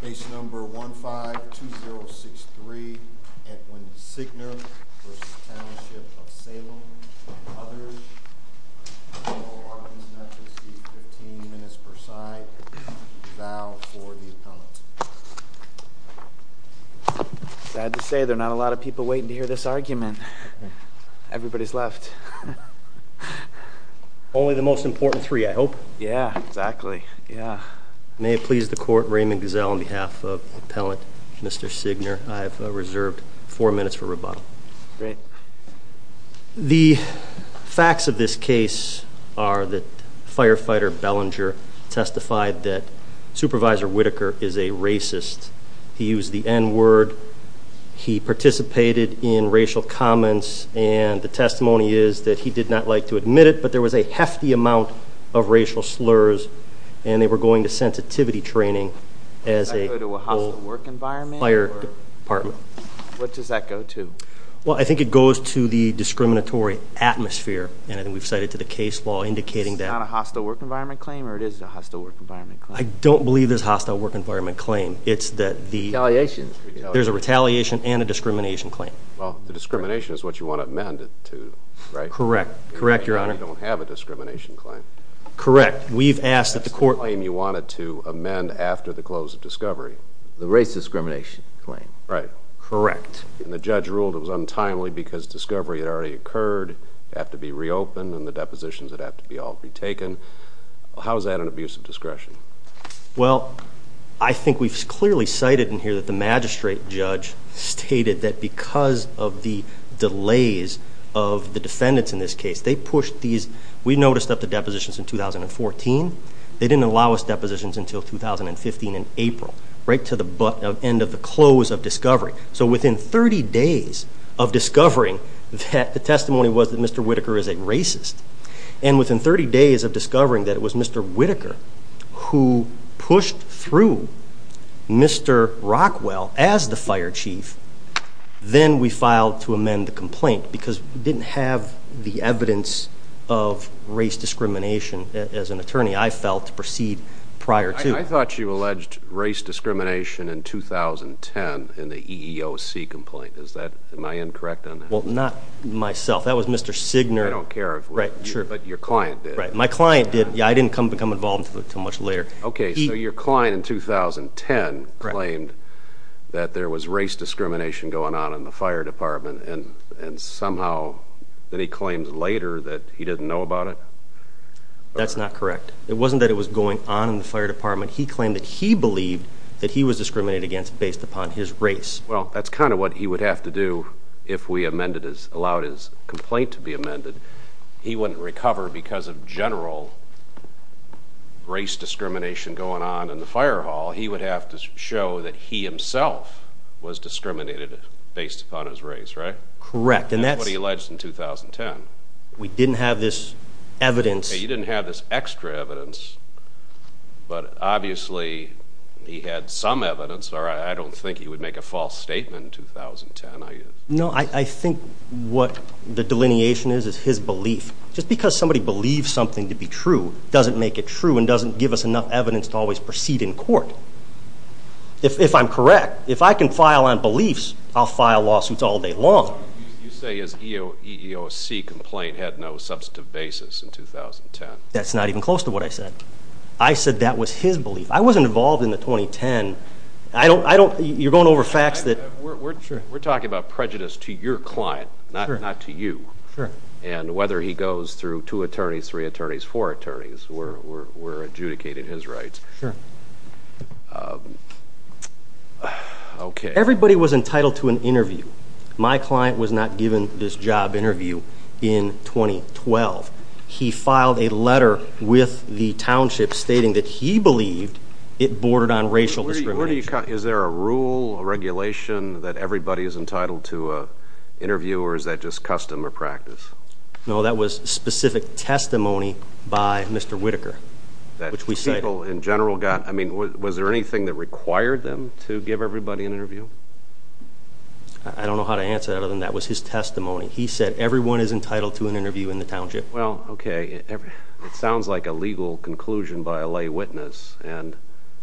Base number 152063, Edwin Segner v. Township of Salem. Others, General Arkansas receives 15 minutes per side. Vow for the appellant. Sad to say, there are not a lot of people waiting to hear this argument. Everybody's left. Only the most important three, I hope. Yeah, exactly. Yeah. May it please the court, Raymond Gazelle on behalf of the appellant, Mr. Segner, I have reserved four minutes for rebuttal. Great. The facts of this case are that Firefighter Bellinger testified that Supervisor Whitaker is a racist. He used the N-word. He participated in racial comments. And the testimony is that he did not like to admit it, but there was a hefty amount of racial slurs, and they were going to sensitivity training as a whole fire department. What does that go to? Well, I think it goes to the discriminatory atmosphere. And I think we've cited to the case law indicating that. It's not a hostile work environment claim, or it is a hostile work environment claim? I don't believe it's a hostile work environment claim. It's that there's a retaliation and a discrimination claim. Well, the discrimination is what you want to amend it to, right? Correct. Correct, Your Honor. You don't have a discrimination claim. Correct. We've asked that the court— It's the claim you wanted to amend after the close of discovery. The race discrimination claim. Right. Correct. And the judge ruled it was untimely because discovery had already occurred. It would have to be reopened, and the depositions would have to be all retaken. How is that an abuse of discretion? Well, I think we've clearly cited in here that the magistrate judge stated that because of the delays of the defendants in this case, they pushed these— we noticed up to depositions in 2014. They didn't allow us depositions until 2015 in April, right to the end of the close of discovery. So within 30 days of discovering that the testimony was that Mr. Whitaker is a racist, and within 30 days of discovering that it was Mr. Whitaker who pushed through Mr. Rockwell as the fire chief, then we filed to amend the complaint because we didn't have the evidence of race discrimination, as an attorney, I felt, to proceed prior to. I thought you alleged race discrimination in 2010 in the EEOC complaint. Am I incorrect on that? Well, not myself. That was Mr. Signer. I don't care, but your client did. My client did. Yeah, I didn't become involved until much later. Okay, so your client in 2010 claimed that there was race discrimination going on in the fire department, and somehow then he claimed later that he didn't know about it? That's not correct. It wasn't that it was going on in the fire department. He claimed that he believed that he was discriminated against based upon his race. Well, that's kind of what he would have to do if we allowed his complaint to be amended. He wouldn't recover because of general race discrimination going on in the fire hall. He would have to show that he himself was discriminated based upon his race, right? Correct. That's what he alleged in 2010. We didn't have this evidence. Okay, you didn't have this extra evidence, but obviously he had some evidence, or I don't think he would make a false statement in 2010. No, I think what the delineation is is his belief. Just because somebody believes something to be true doesn't make it true and doesn't give us enough evidence to always proceed in court. If I'm correct, if I can file on beliefs, I'll file lawsuits all day long. You say his EEOC complaint had no substantive basis in 2010. That's not even close to what I said. I said that was his belief. I wasn't involved in the 2010. You're going over facts. We're talking about prejudice to your client, not to you. Sure. And whether he goes through two attorneys, three attorneys, four attorneys, we're adjudicating his rights. Sure. Everybody was entitled to an interview. My client was not given this job interview in 2012. He filed a letter with the township stating that he believed it bordered on racial discrimination. Is there a rule, a regulation, that everybody is entitled to an interview, or is that just custom or practice? No, that was specific testimony by Mr. Whitaker, which we cited. I mean, was there anything that required them to give everybody an interview? I don't know how to answer that other than that was his testimony. He said everyone is entitled to an interview in the township. Well, okay, it sounds like a legal conclusion by a lay witness, and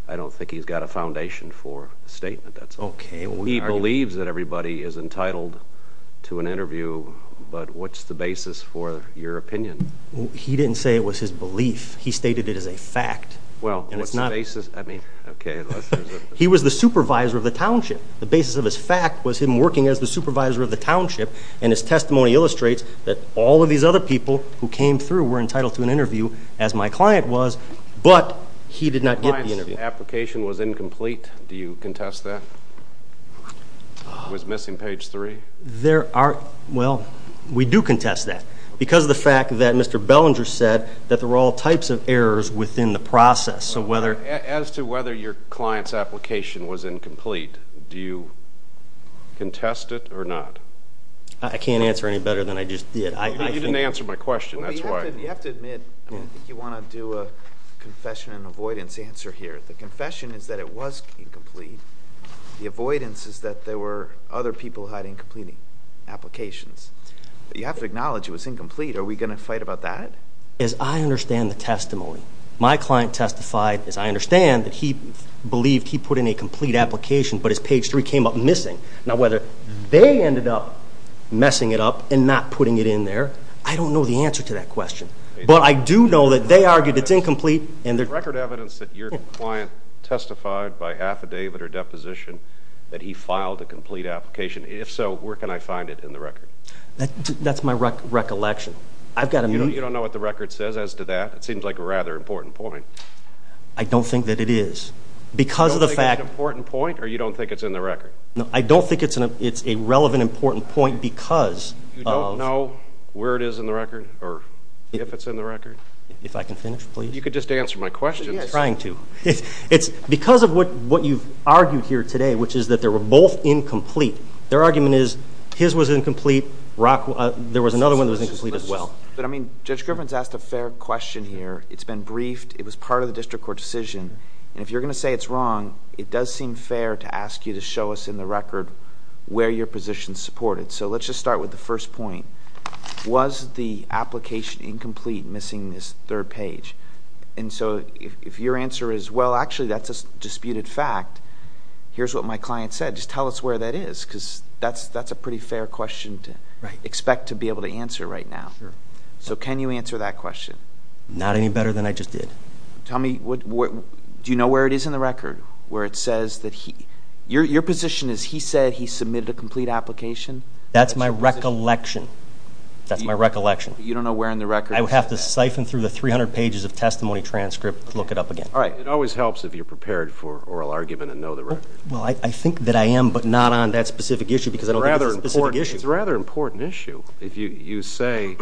I don't think he's got a foundation for a statement. Okay. He believes that everybody is entitled to an interview, but what's the basis for your opinion? He didn't say it was his belief. He stated it as a fact. Well, what's the basis? I mean, okay. He was the supervisor of the township. The basis of his fact was him working as the supervisor of the township, and his testimony illustrates that all of these other people who came through were entitled to an interview, as my client was, but he did not get the interview. My client's application was incomplete. Do you contest that? It was missing page three. Well, we do contest that because of the fact that Mr. Bellinger said that there were all types of errors within the process. As to whether your client's application was incomplete, do you contest it or not? I can't answer any better than I just did. You didn't answer my question. You have to admit you want to do a confession and avoidance answer here. The confession is that it was incomplete. The avoidance is that there were other people who had incomplete applications. You have to acknowledge it was incomplete. Are we going to fight about that? As I understand the testimony, my client testified, as I understand, that he believed he put in a complete application, but his page three came up missing. Now, whether they ended up messing it up and not putting it in there, I don't know the answer to that question. But I do know that they argued it's incomplete. There's record evidence that your client testified by affidavit or deposition that he filed a complete application. If so, where can I find it in the record? That's my recollection. You don't know what the record says as to that? It seems like a rather important point. I don't think that it is. You don't think it's an important point or you don't think it's in the record? I don't think it's a relevant, important point because of... You don't know where it is in the record or if it's in the record? If I can finish, please. You could just answer my question. I'm trying to. It's because of what you've argued here today, which is that they were both incomplete. Their argument is his was incomplete. There was another one that was incomplete as well. But, I mean, Judge Griffin's asked a fair question here. It's been briefed. It was part of the district court decision. And if you're going to say it's wrong, it does seem fair to ask you to show us in the record where your position is supported. So let's just start with the first point. Was the application incomplete, missing this third page? And so if your answer is, well, actually, that's a disputed fact, here's what my client said. Just tell us where that is because that's a pretty fair question to expect to be able to answer right now. So can you answer that question? Not any better than I just did. Tell me, do you know where it is in the record where it says that he... Your position is he said he submitted a complete application? That's my recollection. That's my recollection. You don't know where in the record... I would have to siphon through the 300 pages of testimony transcript to look it up again. All right. It always helps if you're prepared for oral argument and know the record. Well, I think that I am, but not on that specific issue because I don't think it's a specific issue. It's a rather important issue if you say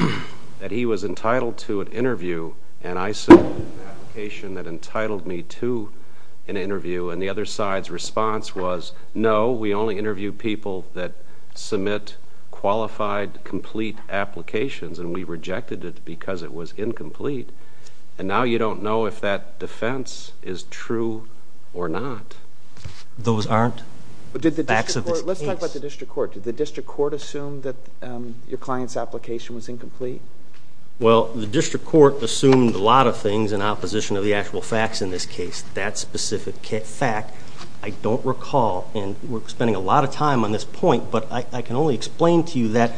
that he was entitled to an interview and I submitted an application that entitled me to an interview, and the other side's response was, no, we only interview people that submit qualified, complete applications, and we rejected it because it was incomplete. And now you don't know if that defense is true or not. Those aren't facts of this case. Let's talk about the district court. Did the district court assume that your client's application was incomplete? Well, the district court assumed a lot of things in opposition to the actual facts in this case. That specific fact I don't recall, and we're spending a lot of time on this point, but I can only explain to you that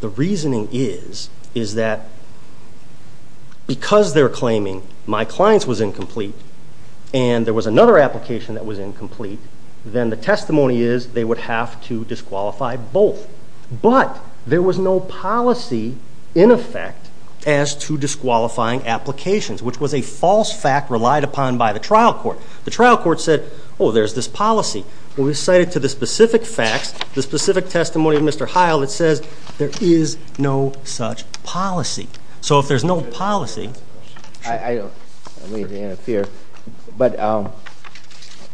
the reasoning is that because they're claiming my client's was incomplete and there was another application that was incomplete, then the testimony is they would have to disqualify both. But there was no policy in effect as to disqualifying applications, which was a false fact relied upon by the trial court. The trial court said, oh, there's this policy. When we cite it to the specific facts, the specific testimony of Mr. Heil, it says there is no such policy. So if there's no policy... I don't mean to interfere, but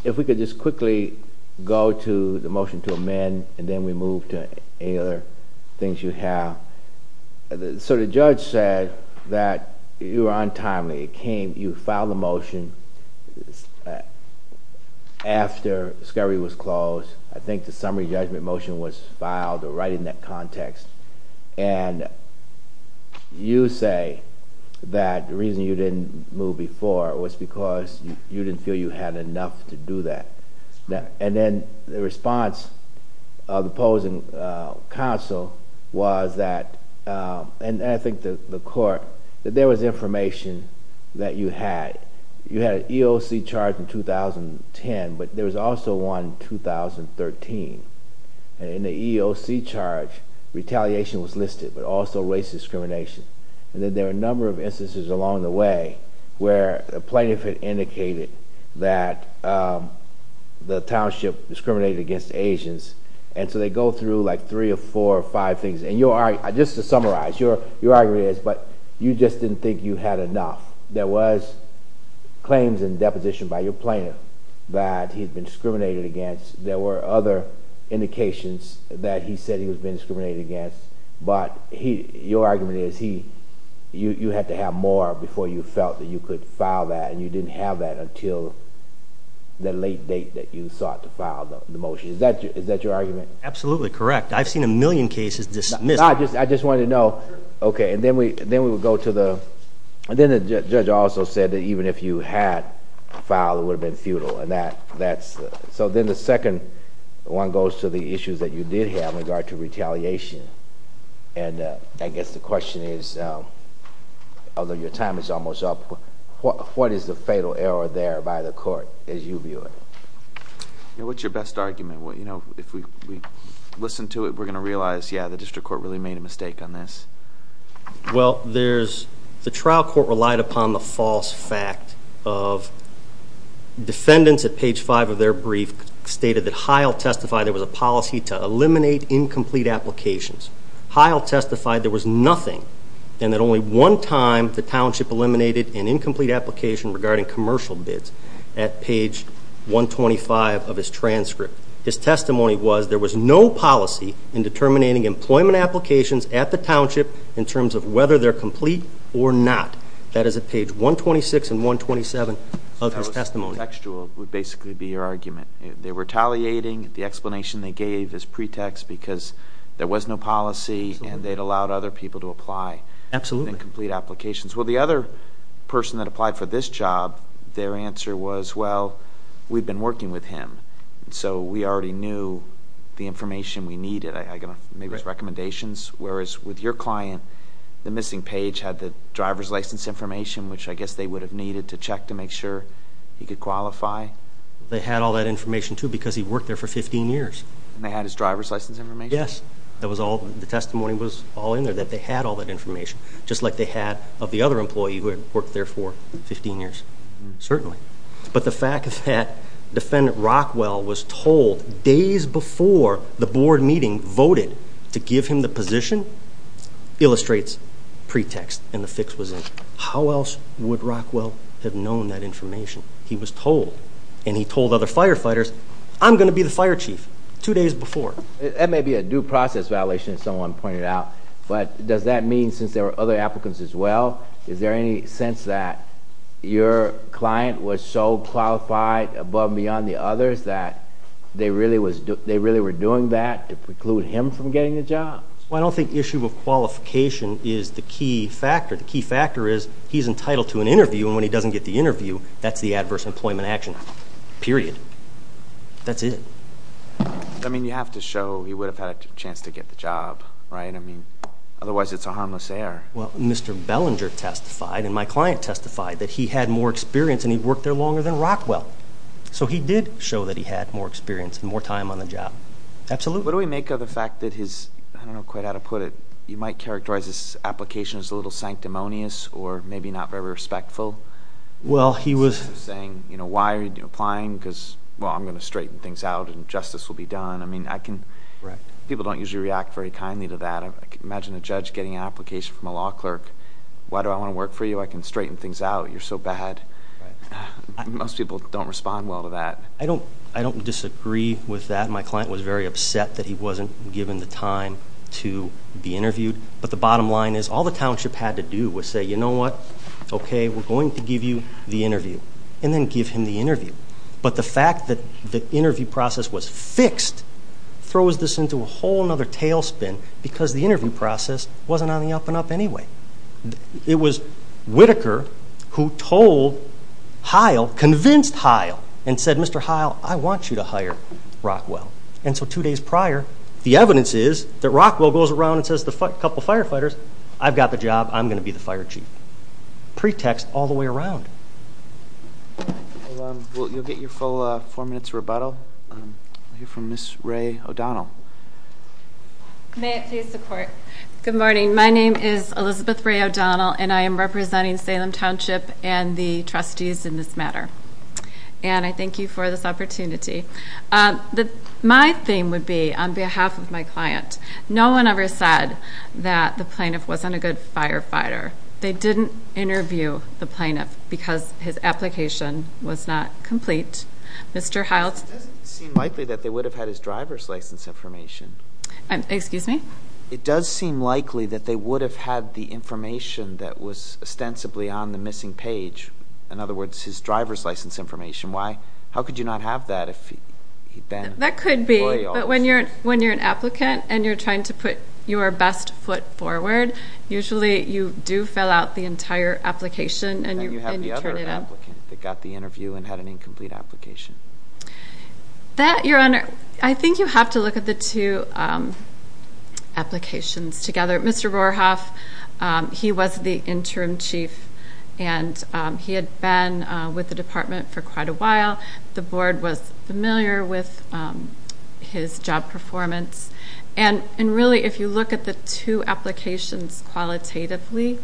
if we could just quickly go to the motion to amend, and then we move to any other things you have. So the judge said that you were untimely. You filed a motion after discovery was closed. I think the summary judgment motion was filed right in that context. And you say that the reason you didn't move before was because you didn't feel you had enough to do that. And then the response of the opposing counsel was that, and I think the court, that there was information that you had. You had an EOC charge in 2010, but there was also one in 2013. And in the EOC charge, retaliation was listed, but also race discrimination. And then there were a number of instances along the way where a plaintiff had indicated that the township discriminated against Asians. And so they go through like three or four or five things. And just to summarize, your argument is, but you just didn't think you had enough. There was claims in deposition by your plaintiff that he'd been discriminated against. There were other indications that he said he was being discriminated against. But your argument is you had to have more before you felt that you could file that, and you didn't have that until the late date that you sought to file the motion. Is that your argument? Absolutely correct. I've seen a million cases dismissed. I just wanted to know, okay, and then we would go to the, and then the judge also said that even if you had filed, it would have been futile. And that's, so then the second one goes to the issues that you did have in regard to retaliation. And I guess the question is, although your time is almost up, what is the fatal error there by the court as you view it? What's your best argument? If we listen to it, we're going to realize, yeah, the district court really made a mistake on this. Well, there's, the trial court relied upon the false fact of defendants at page 5 of their brief stated that Heil testified there was a policy to eliminate incomplete applications. Heil testified there was nothing, and that only one time the township eliminated an incomplete application regarding commercial bids at page 125 of his transcript. His testimony was there was no policy in determining employment applications at the township in terms of whether they're complete or not. That is at page 126 and 127 of his testimony. So that was contextual would basically be your argument. They were retaliating. The explanation they gave is pretext because there was no policy and they'd allowed other people to apply. Absolutely. Incomplete applications. Well, the other person that applied for this job, their answer was, well, we've been working with him, so we already knew the information we needed. I made those recommendations. Whereas with your client, the missing page had the driver's license information, which I guess they would have needed to check to make sure he could qualify. They had all that information, too, because he worked there for 15 years. And they had his driver's license information? Yes. The testimony was all in there that they had all that information, just like they had of the other employee who had worked there for 15 years. Certainly. But the fact that Defendant Rockwell was told days before the board meeting, voted to give him the position, illustrates pretext, and the fix was in. How else would Rockwell have known that information? He was told. And he told other firefighters, I'm going to be the fire chief two days before. That may be a due process violation, as someone pointed out, but does that mean, since there were other applicants as well, is there any sense that your client was so qualified above and beyond the others that they really were doing that to preclude him from getting the job? Well, I don't think issue of qualification is the key factor. The key factor is he's entitled to an interview, and when he doesn't get the interview, that's the adverse employment action, period. That's it. I mean, you have to show he would have had a chance to get the job, right? I mean, otherwise it's a harmless error. Well, Mr. Bellinger testified, and my client testified, that he had more experience and he'd worked there longer than Rockwell. So he did show that he had more experience and more time on the job. Absolutely. What do we make of the fact that his, I don't know quite how to put it, you might characterize his application as a little sanctimonious or maybe not very respectful? Well, he was. Saying, you know, why are you applying? Because, well, I'm going to straighten things out and justice will be done. People don't usually react very kindly to that. Imagine a judge getting an application from a law clerk. Why do I want to work for you? I can straighten things out. You're so bad. Most people don't respond well to that. I don't disagree with that. My client was very upset that he wasn't given the time to be interviewed. But the bottom line is all the township had to do was say, you know what? Okay, we're going to give you the interview. And then give him the interview. But the fact that the interview process was fixed throws this into a whole other tailspin because the interview process wasn't on the up-and-up anyway. It was Whitaker who told Heil, convinced Heil, and said, Mr. Heil, I want you to hire Rockwell. And so two days prior, the evidence is that Rockwell goes around and says to a couple of firefighters, I've got the job. I'm going to be the fire chief. Pretext all the way around. You'll get your full four minutes rebuttal. We'll hear from Ms. Rae O'Donnell. May it please the Court. Good morning. My name is Elizabeth Rae O'Donnell, and I am representing Salem Township and the trustees in this matter. And I thank you for this opportunity. My theme would be, on behalf of my client, no one ever said that the plaintiff wasn't a good firefighter. They didn't interview the plaintiff because his application was not complete. Mr. Heil. It doesn't seem likely that they would have had his driver's license information. Excuse me? It does seem likely that they would have had the information that was ostensibly on the missing page. In other words, his driver's license information. How could you not have that if he'd been loyal? That could be. But when you're an applicant and you're trying to put your best foot forward, usually you do fill out the entire application and you turn it up. And you have the other applicant that got the interview and had an incomplete application. That, Your Honor, I think you have to look at the two applications together. Mr. Rohrhoff, he was the interim chief, and he had been with the department for quite a while. The board was familiar with his job performance. And really, if you look at the two applications qualitatively,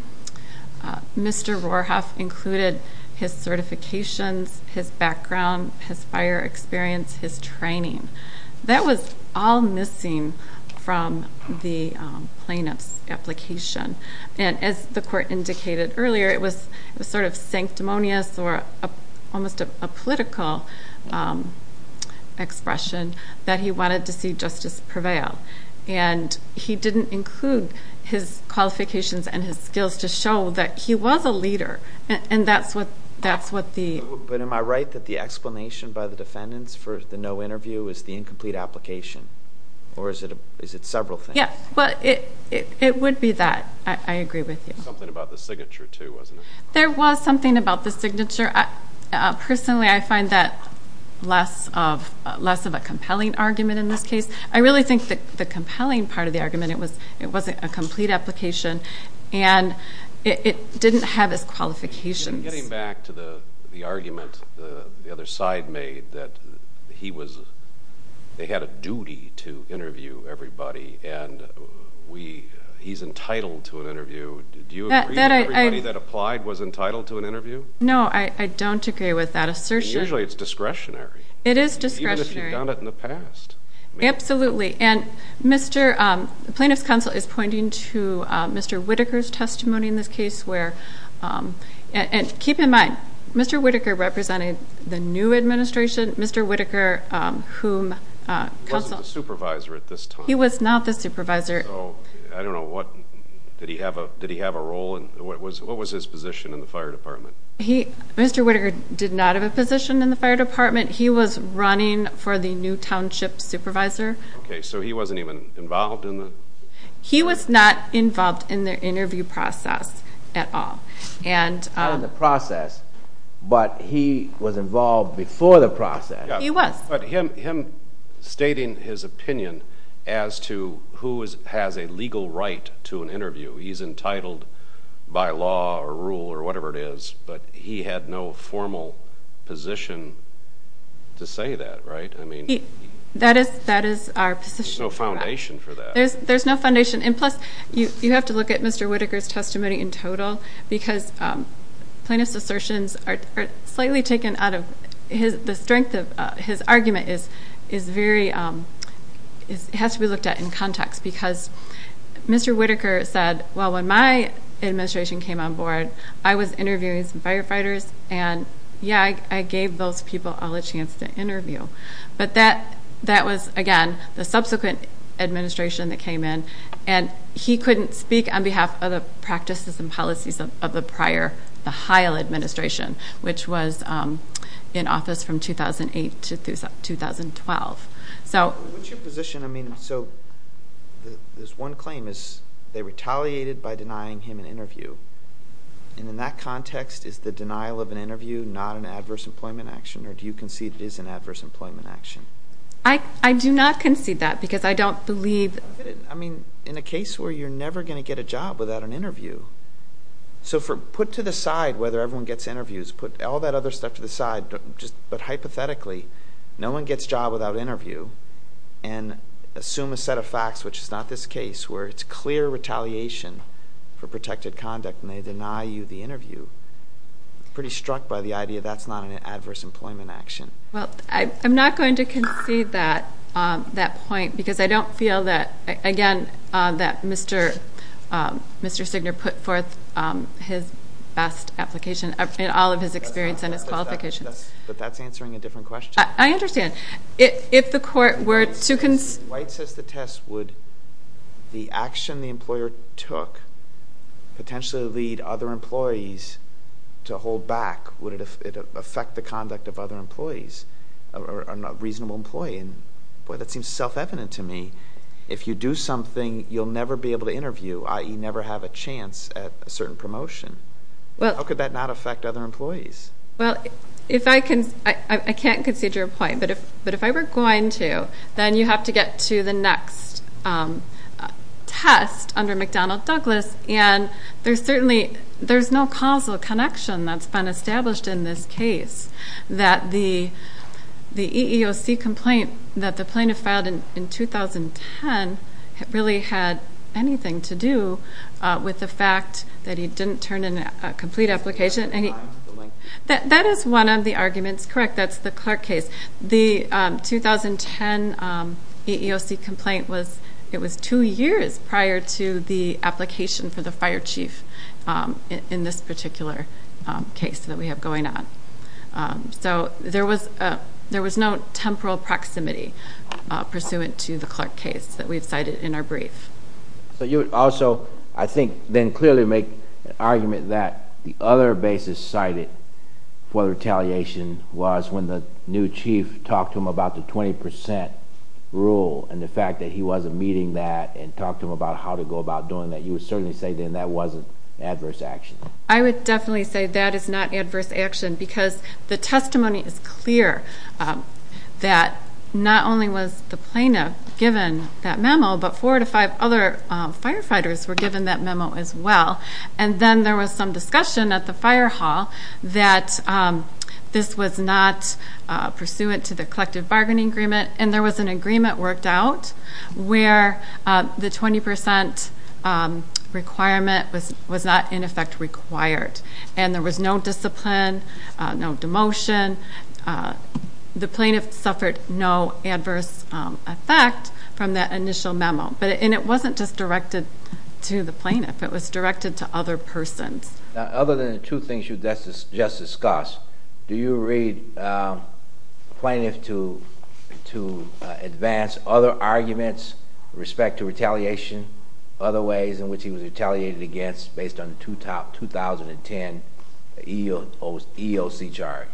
Mr. Rohrhoff included his certifications, his background, his fire experience, his training. That was all missing from the plaintiff's application. And as the court indicated earlier, it was sort of sanctimonious or almost a political expression that he wanted to see justice prevail. And he didn't include his qualifications and his skills to show that he was a leader. And that's what the... But am I right that the explanation by the defendants for the no interview is the incomplete application? Or is it several things? Yes. It would be that. I agree with you. Something about the signature, too, wasn't it? There was something about the signature. Personally, I find that less of a compelling argument in this case. I really think the compelling part of the argument, it wasn't a complete application, and it didn't have his qualifications. Getting back to the argument the other side made, that he was... they had a duty to interview everybody, and he's entitled to an interview. Do you agree that everybody that applied was entitled to an interview? No, I don't agree with that assertion. Usually it's discretionary. It is discretionary. Even if you've done it in the past. Absolutely. And the plaintiff's counsel is pointing to Mr. Whittaker's testimony in this case where... And keep in mind, Mr. Whittaker represented the new administration. Mr. Whittaker, whom counsel... He wasn't the supervisor at this time. He was not the supervisor. I don't know. Did he have a role? What was his position in the fire department? Mr. Whittaker did not have a position in the fire department. He was running for the new township supervisor. Okay, so he wasn't even involved in the... He was not involved in the interview process at all. Not in the process, but he was involved before the process. He was. But him stating his opinion as to who has a legal right to an interview, he's entitled by law or rule or whatever it is, but he had no formal position to say that, right? That is our position. There's no foundation for that. There's no foundation. And, plus, you have to look at Mr. Whittaker's testimony in total because plaintiff's assertions are slightly taken out of... The strength of his argument is very... It has to be looked at in context because Mr. Whittaker said, well, when my administration came on board, I was interviewing some firefighters, and, yeah, I gave those people all a chance to interview. But that was, again, the subsequent administration that came in, and he couldn't speak on behalf of the practices and policies of the prior, the Heil administration, which was in office from 2008 to 2012. What's your position? I mean, so there's one claim is they retaliated by denying him an interview, and in that context, is the denial of an interview not an adverse employment action, or do you concede it is an adverse employment action? I do not concede that because I don't believe... I mean, in a case where you're never going to get a job without an interview. So put to the side whether everyone gets interviews, put all that other stuff to the side, but hypothetically, no one gets a job without an interview, and assume a set of facts, which is not this case, where it's clear retaliation for protected conduct, and they deny you the interview. I'm pretty struck by the idea that's not an adverse employment action. Well, I'm not going to concede that point because I don't feel that, again, that Mr. Stigner put forth his best application in all of his experience and his qualifications. But that's answering a different question. I understand. If the court were to... White says the test would the action the employer took potentially lead other employees to hold back. Would it affect the conduct of other employees, a reasonable employee? Boy, that seems self-evident to me. If you do something, you'll never be able to interview, i.e., never have a chance at a certain promotion. How could that not affect other employees? Well, I can't concede your point, but if I were going to, then you have to get to the next test under McDonnell Douglas, and there's certainly no causal connection that's been established in this case that the EEOC complaint that the plaintiff filed in 2010 really had anything to do with the fact that he didn't turn in a complete application. That is one of the arguments. Correct, that's the Clark case. The 2010 EEOC complaint, it was two years prior to the application for the fire chief in this particular case that we have going on. There was no temporal proximity pursuant to the Clark case that we've cited in our brief. You would also, I think, then clearly make an argument that the other basis cited for retaliation was when the new chief talked to him about the 20% rule and the fact that he wasn't meeting that and talked to him about how to go about doing that. You would certainly say then that wasn't adverse action. I would definitely say that is not adverse action because the testimony is clear that not only was the plaintiff given that memo, but four out of five other firefighters were given that memo as well. And then there was some discussion at the fire hall that this was not pursuant to the collective bargaining agreement, and there was an agreement worked out where the 20% requirement was not, in effect, required. And there was no discipline, no demotion. The plaintiff suffered no adverse effect from that initial memo. And it wasn't just directed to the plaintiff. It was directed to other persons. Other than the two things you just discussed, do you read the plaintiff to advance other arguments with respect to retaliation, other ways in which he was retaliated against based on the 2010 EEOC charge?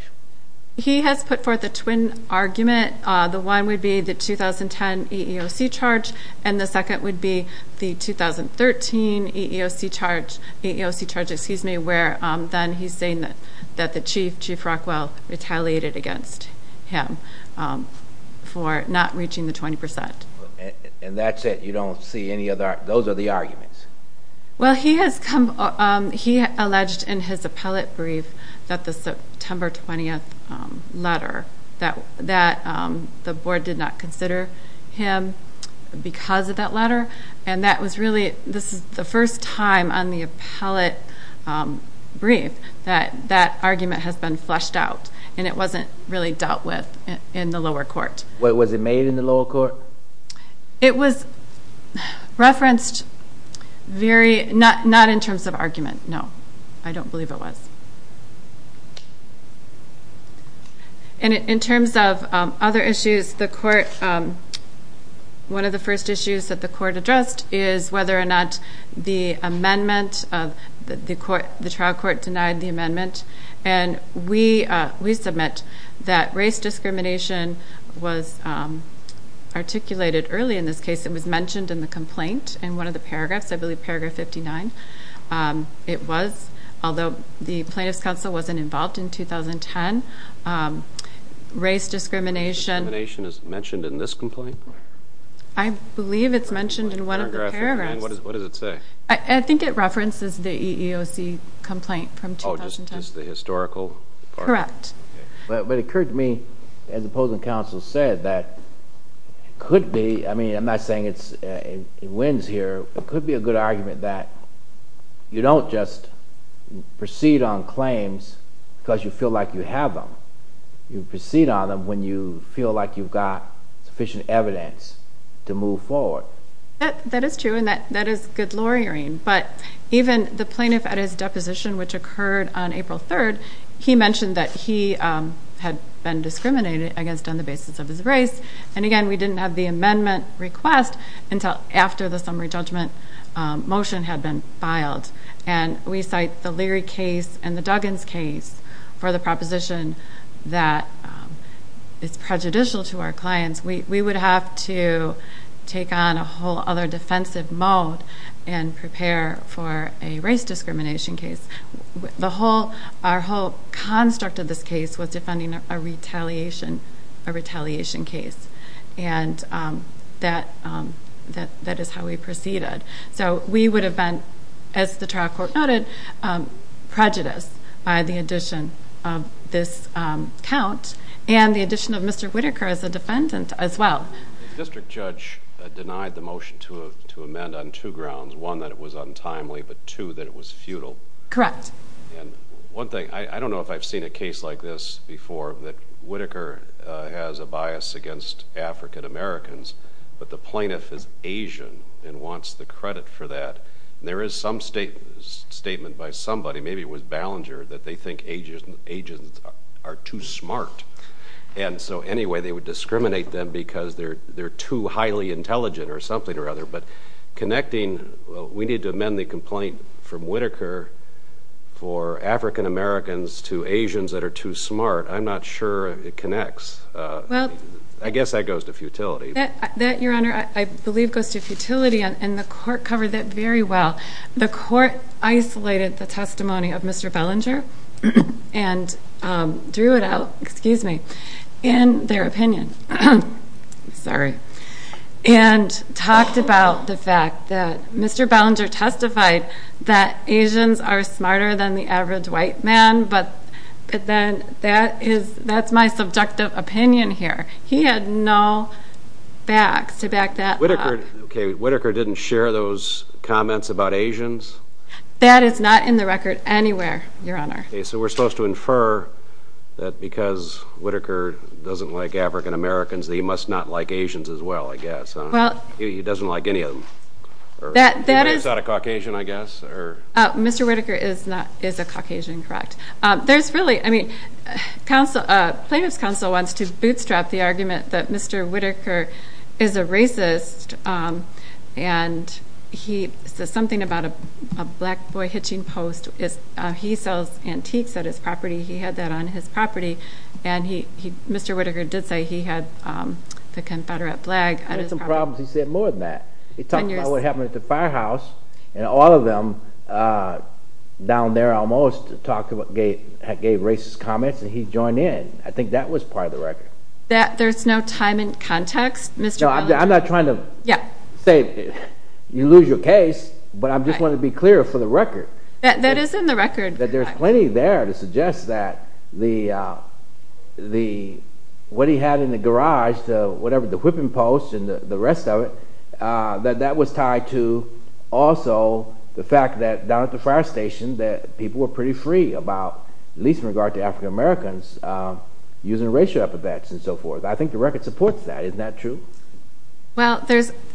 He has put forth a twin argument. The one would be the 2010 EEOC charge, and the second would be the 2013 EEOC charge, where then he's saying that the chief, Chief Rockwell, retaliated against him for not reaching the 20%. And that's it? You don't see any other? Those are the arguments? Well, he alleged in his appellate brief that the September 20th letter, that the board did not consider him because of that letter. And that was really the first time on the appellate brief that that argument has been fleshed out, and it wasn't really dealt with in the lower court. Was it made in the lower court? It was referenced not in terms of argument, no. I don't believe it was. And in terms of other issues, one of the first issues that the court addressed is whether or not the trial court denied the amendment. And we submit that race discrimination was articulated early in this case. It was mentioned in the complaint in one of the paragraphs, I believe paragraph 59 it was, although the plaintiff's counsel wasn't involved in 2010. Race discrimination. Race discrimination is mentioned in this complaint? I believe it's mentioned in one of the paragraphs. What does it say? I think it references the EEOC complaint from 2010. Oh, just the historical part? Correct. But it occurred to me, as the opposing counsel said, that it could be, I mean, I'm not saying it wins here, it could be a good argument that you don't just proceed on claims because you feel like you have them. You proceed on them when you feel like you've got sufficient evidence to move forward. That is true, and that is good lawyering. But even the plaintiff at his deposition, which occurred on April 3rd, he mentioned that he had been discriminated against on the basis of his race. And, again, we didn't have the amendment request until after the summary judgment motion had been filed. And we cite the Leary case and the Duggins case for the proposition that it's prejudicial to our clients. We would have to take on a whole other defensive mode and prepare for a race discrimination case. Our whole construct of this case was defending a retaliation case, and that is how we proceeded. So we would have been, as the trial court noted, prejudiced by the addition of this count and the addition of Mr. Whitaker as a defendant as well. The district judge denied the motion to amend on two grounds. One, that it was untimely, but two, that it was futile. Correct. And one thing, I don't know if I've seen a case like this before, that Whitaker has a bias against African-Americans, but the plaintiff is Asian and wants the credit for that. And there is some statement by somebody, maybe it was Ballinger, that they think Asians are too smart. And so, anyway, they would discriminate them because they're too highly intelligent or something or other. But connecting, well, we need to amend the complaint from Whitaker for African-Americans to Asians that are too smart. I'm not sure it connects. I guess that goes to futility. That, Your Honor, I believe goes to futility, and the court covered that very well. The court isolated the testimony of Mr. Ballinger and drew it out in their opinion and talked about the fact that Mr. Ballinger testified that Asians are smarter than the average white man, but then that's my subjective opinion here. He had no facts to back that up. Okay. Whitaker didn't share those comments about Asians? That is not in the record anywhere, Your Honor. Okay. So we're supposed to infer that because Whitaker doesn't like African-Americans, that he must not like Asians as well, I guess. He doesn't like any of them. That is not a Caucasian, I guess? Mr. Whitaker is a Caucasian, correct. There's really, I mean, plaintiff's counsel wants to bootstrap the argument that Mr. Whitaker is a racist, and he says something about a black boy hitching post. He sells antiques at his property. He had that on his property. Mr. Whitaker did say he had the Confederate flag at his property. He had some problems. He said more than that. He talked about what happened at the firehouse, and all of them down there almost gave racist comments, and he joined in. I think that was part of the record. There's no time and context, Mr. Wellington? No, I'm not trying to say you lose your case, but I just wanted to be clear for the record. That is in the record. There's plenty there to suggest that what he had in the garage, whatever, the whipping post and the rest of it, that that was tied to also the fact that down at the fire station that people were pretty free about, at least in regard to African Americans, using racial epithets and so forth. I think the record supports that. Isn't that true? Well,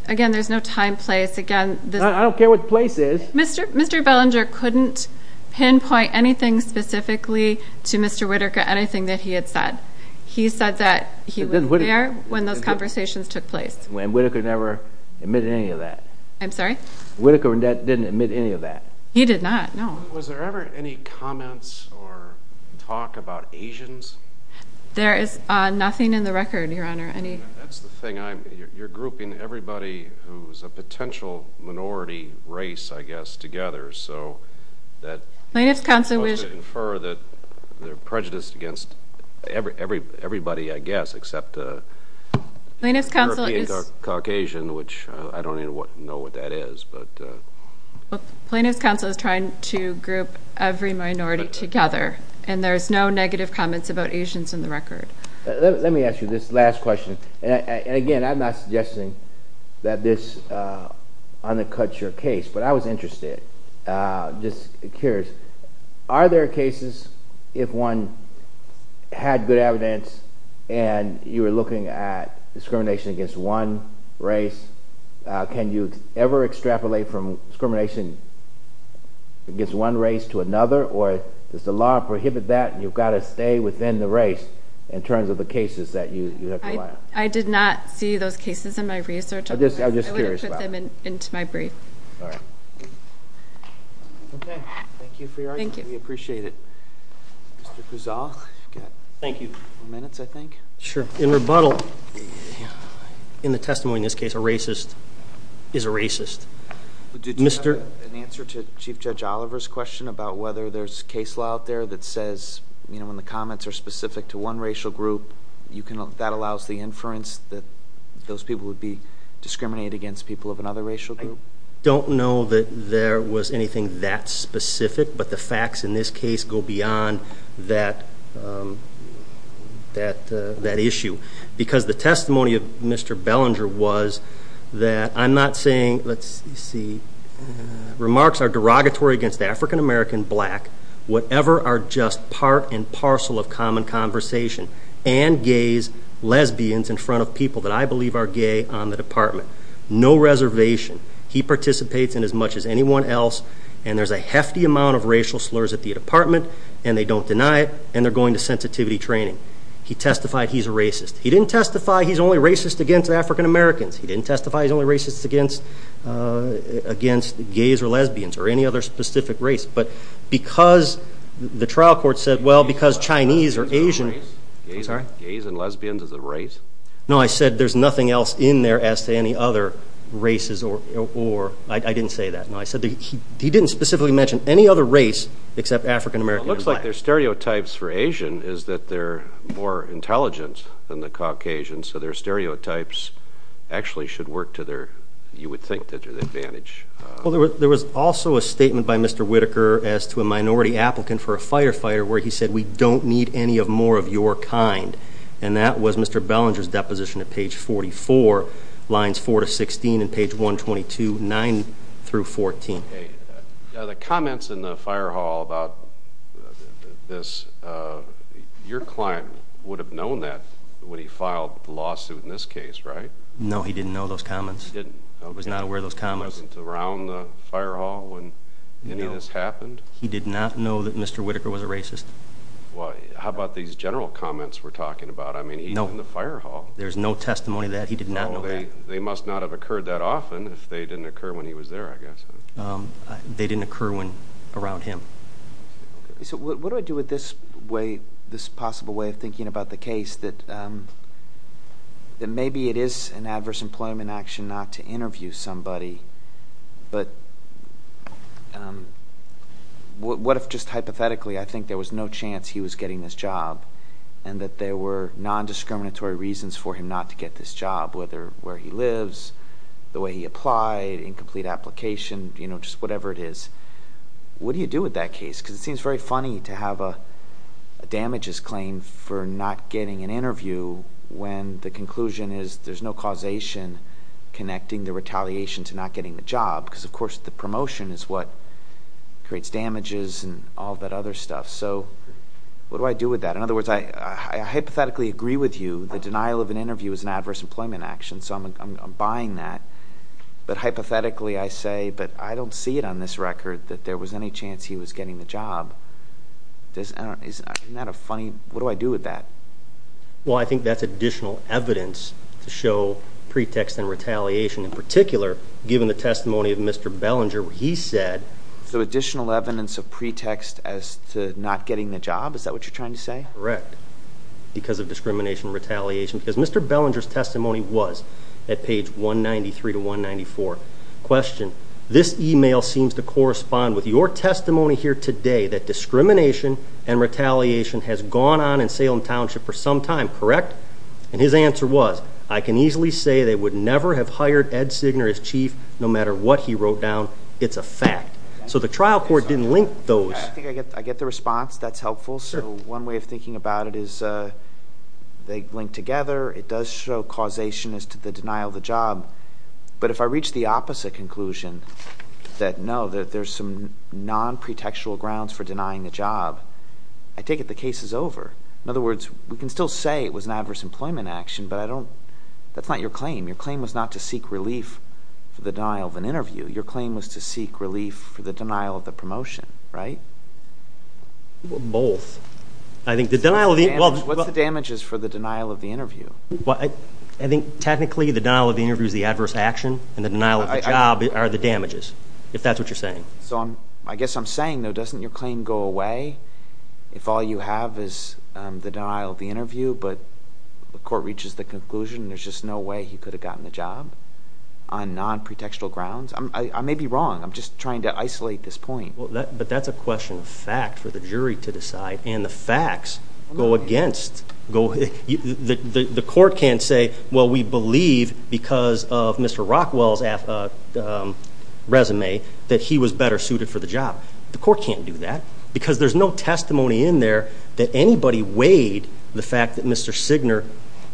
again, there's no time, place, again. I don't care what the place is. Mr. Bellinger couldn't pinpoint anything specifically to Mr. Whitaker, anything that he had said. He said that he was there when those conversations took place. And Whitaker never admitted any of that. I'm sorry? Whitaker didn't admit any of that. He did not, no. Was there ever any comments or talk about Asians? There is nothing in the record, Your Honor. That's the thing. You're grouping everybody who's a potential minority race, I guess, together. So that you're supposed to infer that they're prejudiced against everybody, I guess, except a European Caucasian, which I don't even know what that is. Plano's counsel is trying to group every minority together, and there's no negative comments about Asians in the record. Let me ask you this last question. Again, I'm not suggesting that this undercuts your case, but I was interested, just curious. Are there cases if one had good evidence and you were looking at discrimination against one race, can you ever extrapolate from discrimination against one race to another, or does the law prohibit that and you've got to stay within the race in terms of the cases that you have to allow? I did not see those cases in my research. I'm just curious about that. I wouldn't put them into my brief. All right. Okay. Thank you for your argument. Thank you. We appreciate it. Mr. Puzol? Thank you. You've got four minutes, I think. Sure. In rebuttal, in the testimony in this case, a racist is a racist. Did you have an answer to Chief Judge Oliver's question about whether there's case law out there that says, when the comments are specific to one racial group, that allows the inference that those people would be discriminated against people of another racial group? I don't know that there was anything that specific, but the facts in this case go beyond that issue. Because the testimony of Mr. Bellinger was that I'm not saying, let's see, remarks are derogatory against the African-American black, whatever are just part and parcel of common conversation, and gays, lesbians in front of people that I believe are gay on the department. No reservation. He participates in as much as anyone else, and there's a hefty amount of racial slurs at the department, and they don't deny it, and they're going to sensitivity training. He testified he's a racist. He didn't testify he's only racist against African-Americans. He didn't testify he's only racist against gays or lesbians or any other specific race. But because the trial court said, well, because Chinese or Asian – Gays and lesbians is a race? No, I said there's nothing else in there as to any other races or – I didn't say that. No, I said he didn't specifically mention any other race except African-American and black. Well, it looks like their stereotypes for Asian is that they're more intelligent than the Caucasians, so their stereotypes actually should work to their – you would think to their advantage. Well, there was also a statement by Mr. Whitaker as to a minority applicant for a firefighter where he said we don't need any more of your kind, and that was Mr. Bellinger's deposition at page 44, lines 4 to 16, and page 122, 9 through 14. The comments in the fire hall about this, your client would have known that when he filed the lawsuit in this case, right? No, he didn't know those comments. He was not aware of those comments. He wasn't around the fire hall when any of this happened? No, he did not know that Mr. Whitaker was a racist. How about these general comments we're talking about? I mean, he's in the fire hall. There's no testimony that he did not know that. They must not have occurred that often if they didn't occur when he was there, I guess. They didn't occur around him. What do I do with this possible way of thinking about the case that maybe it is an adverse employment action not to interview somebody, but what if just hypothetically I think there was no chance he was getting this job and that there were nondiscriminatory reasons for him not to get this job, whether where he lives, the way he applied, incomplete application, just whatever it is. What do you do with that case? Because it seems very funny to have a damages claim for not getting an interview when the conclusion is there's no causation connecting the retaliation to not getting the job because, of course, the promotion is what creates damages and all that other stuff. So what do I do with that? In other words, I hypothetically agree with you. The denial of an interview is an adverse employment action, so I'm buying that. But hypothetically I say, but I don't see it on this record that there was any chance he was getting the job. Isn't that a funny? What do I do with that? Well, I think that's additional evidence to show pretext and retaliation. In particular, given the testimony of Mr. Bellinger where he said... So additional evidence of pretext as to not getting the job, is that what you're trying to say? Correct, because of discrimination and retaliation. Because Mr. Bellinger's testimony was at page 193 to 194. Question, this email seems to correspond with your testimony here today that discrimination and retaliation has gone on in Salem Township for some time, correct? And his answer was, I can easily say they would never have hired Ed Signer as chief no matter what he wrote down. It's a fact. So the trial court didn't link those. I get the response. That's helpful. So one way of thinking about it is they link together. It does show causation as to the denial of the job. But if I reach the opposite conclusion, that no, there's some non-pretextual grounds for denying the job, I take it the case is over. In other words, we can still say it was an adverse employment action, but that's not your claim. Your claim was not to seek relief for the denial of an interview. Your claim was to seek relief for the denial of the promotion, right? Both. What's the damages for the denial of the interview? I think technically the denial of the interview is the adverse action, and the denial of the job are the damages, if that's what you're saying. I guess I'm saying, though, doesn't your claim go away if all you have is the denial of the interview, but the court reaches the conclusion there's just no way he could have gotten the job on non-pretextual grounds? I may be wrong. I'm just trying to isolate this point. But that's a question of fact for the jury to decide, and the facts go against. The court can't say, well, we believe because of Mr. Rockwell's resume that he was better suited for the job. The court can't do that because there's no testimony in there that anybody weighed the fact that Mr. Signer,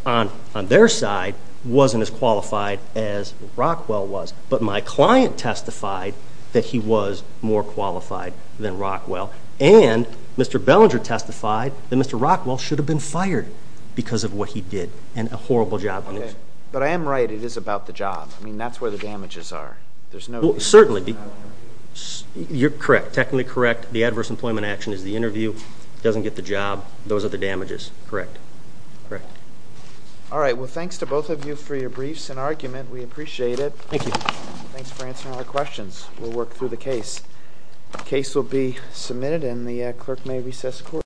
on their side, wasn't as qualified as Rockwell was. But my client testified that he was more qualified than Rockwell, and Mr. Bellinger testified that Mr. Rockwell should have been fired because of what he did and a horrible job. But I am right. It is about the job. I mean, that's where the damages are. Certainly. You're correct. Technically correct. The adverse employment action is the interview, doesn't get the job. Those are the damages. Correct. All right. Well, thanks to both of you for your briefs and argument. We appreciate it. Thank you. Thanks for answering our questions. We'll work through the case. The case will be submitted, and the clerk may recess court.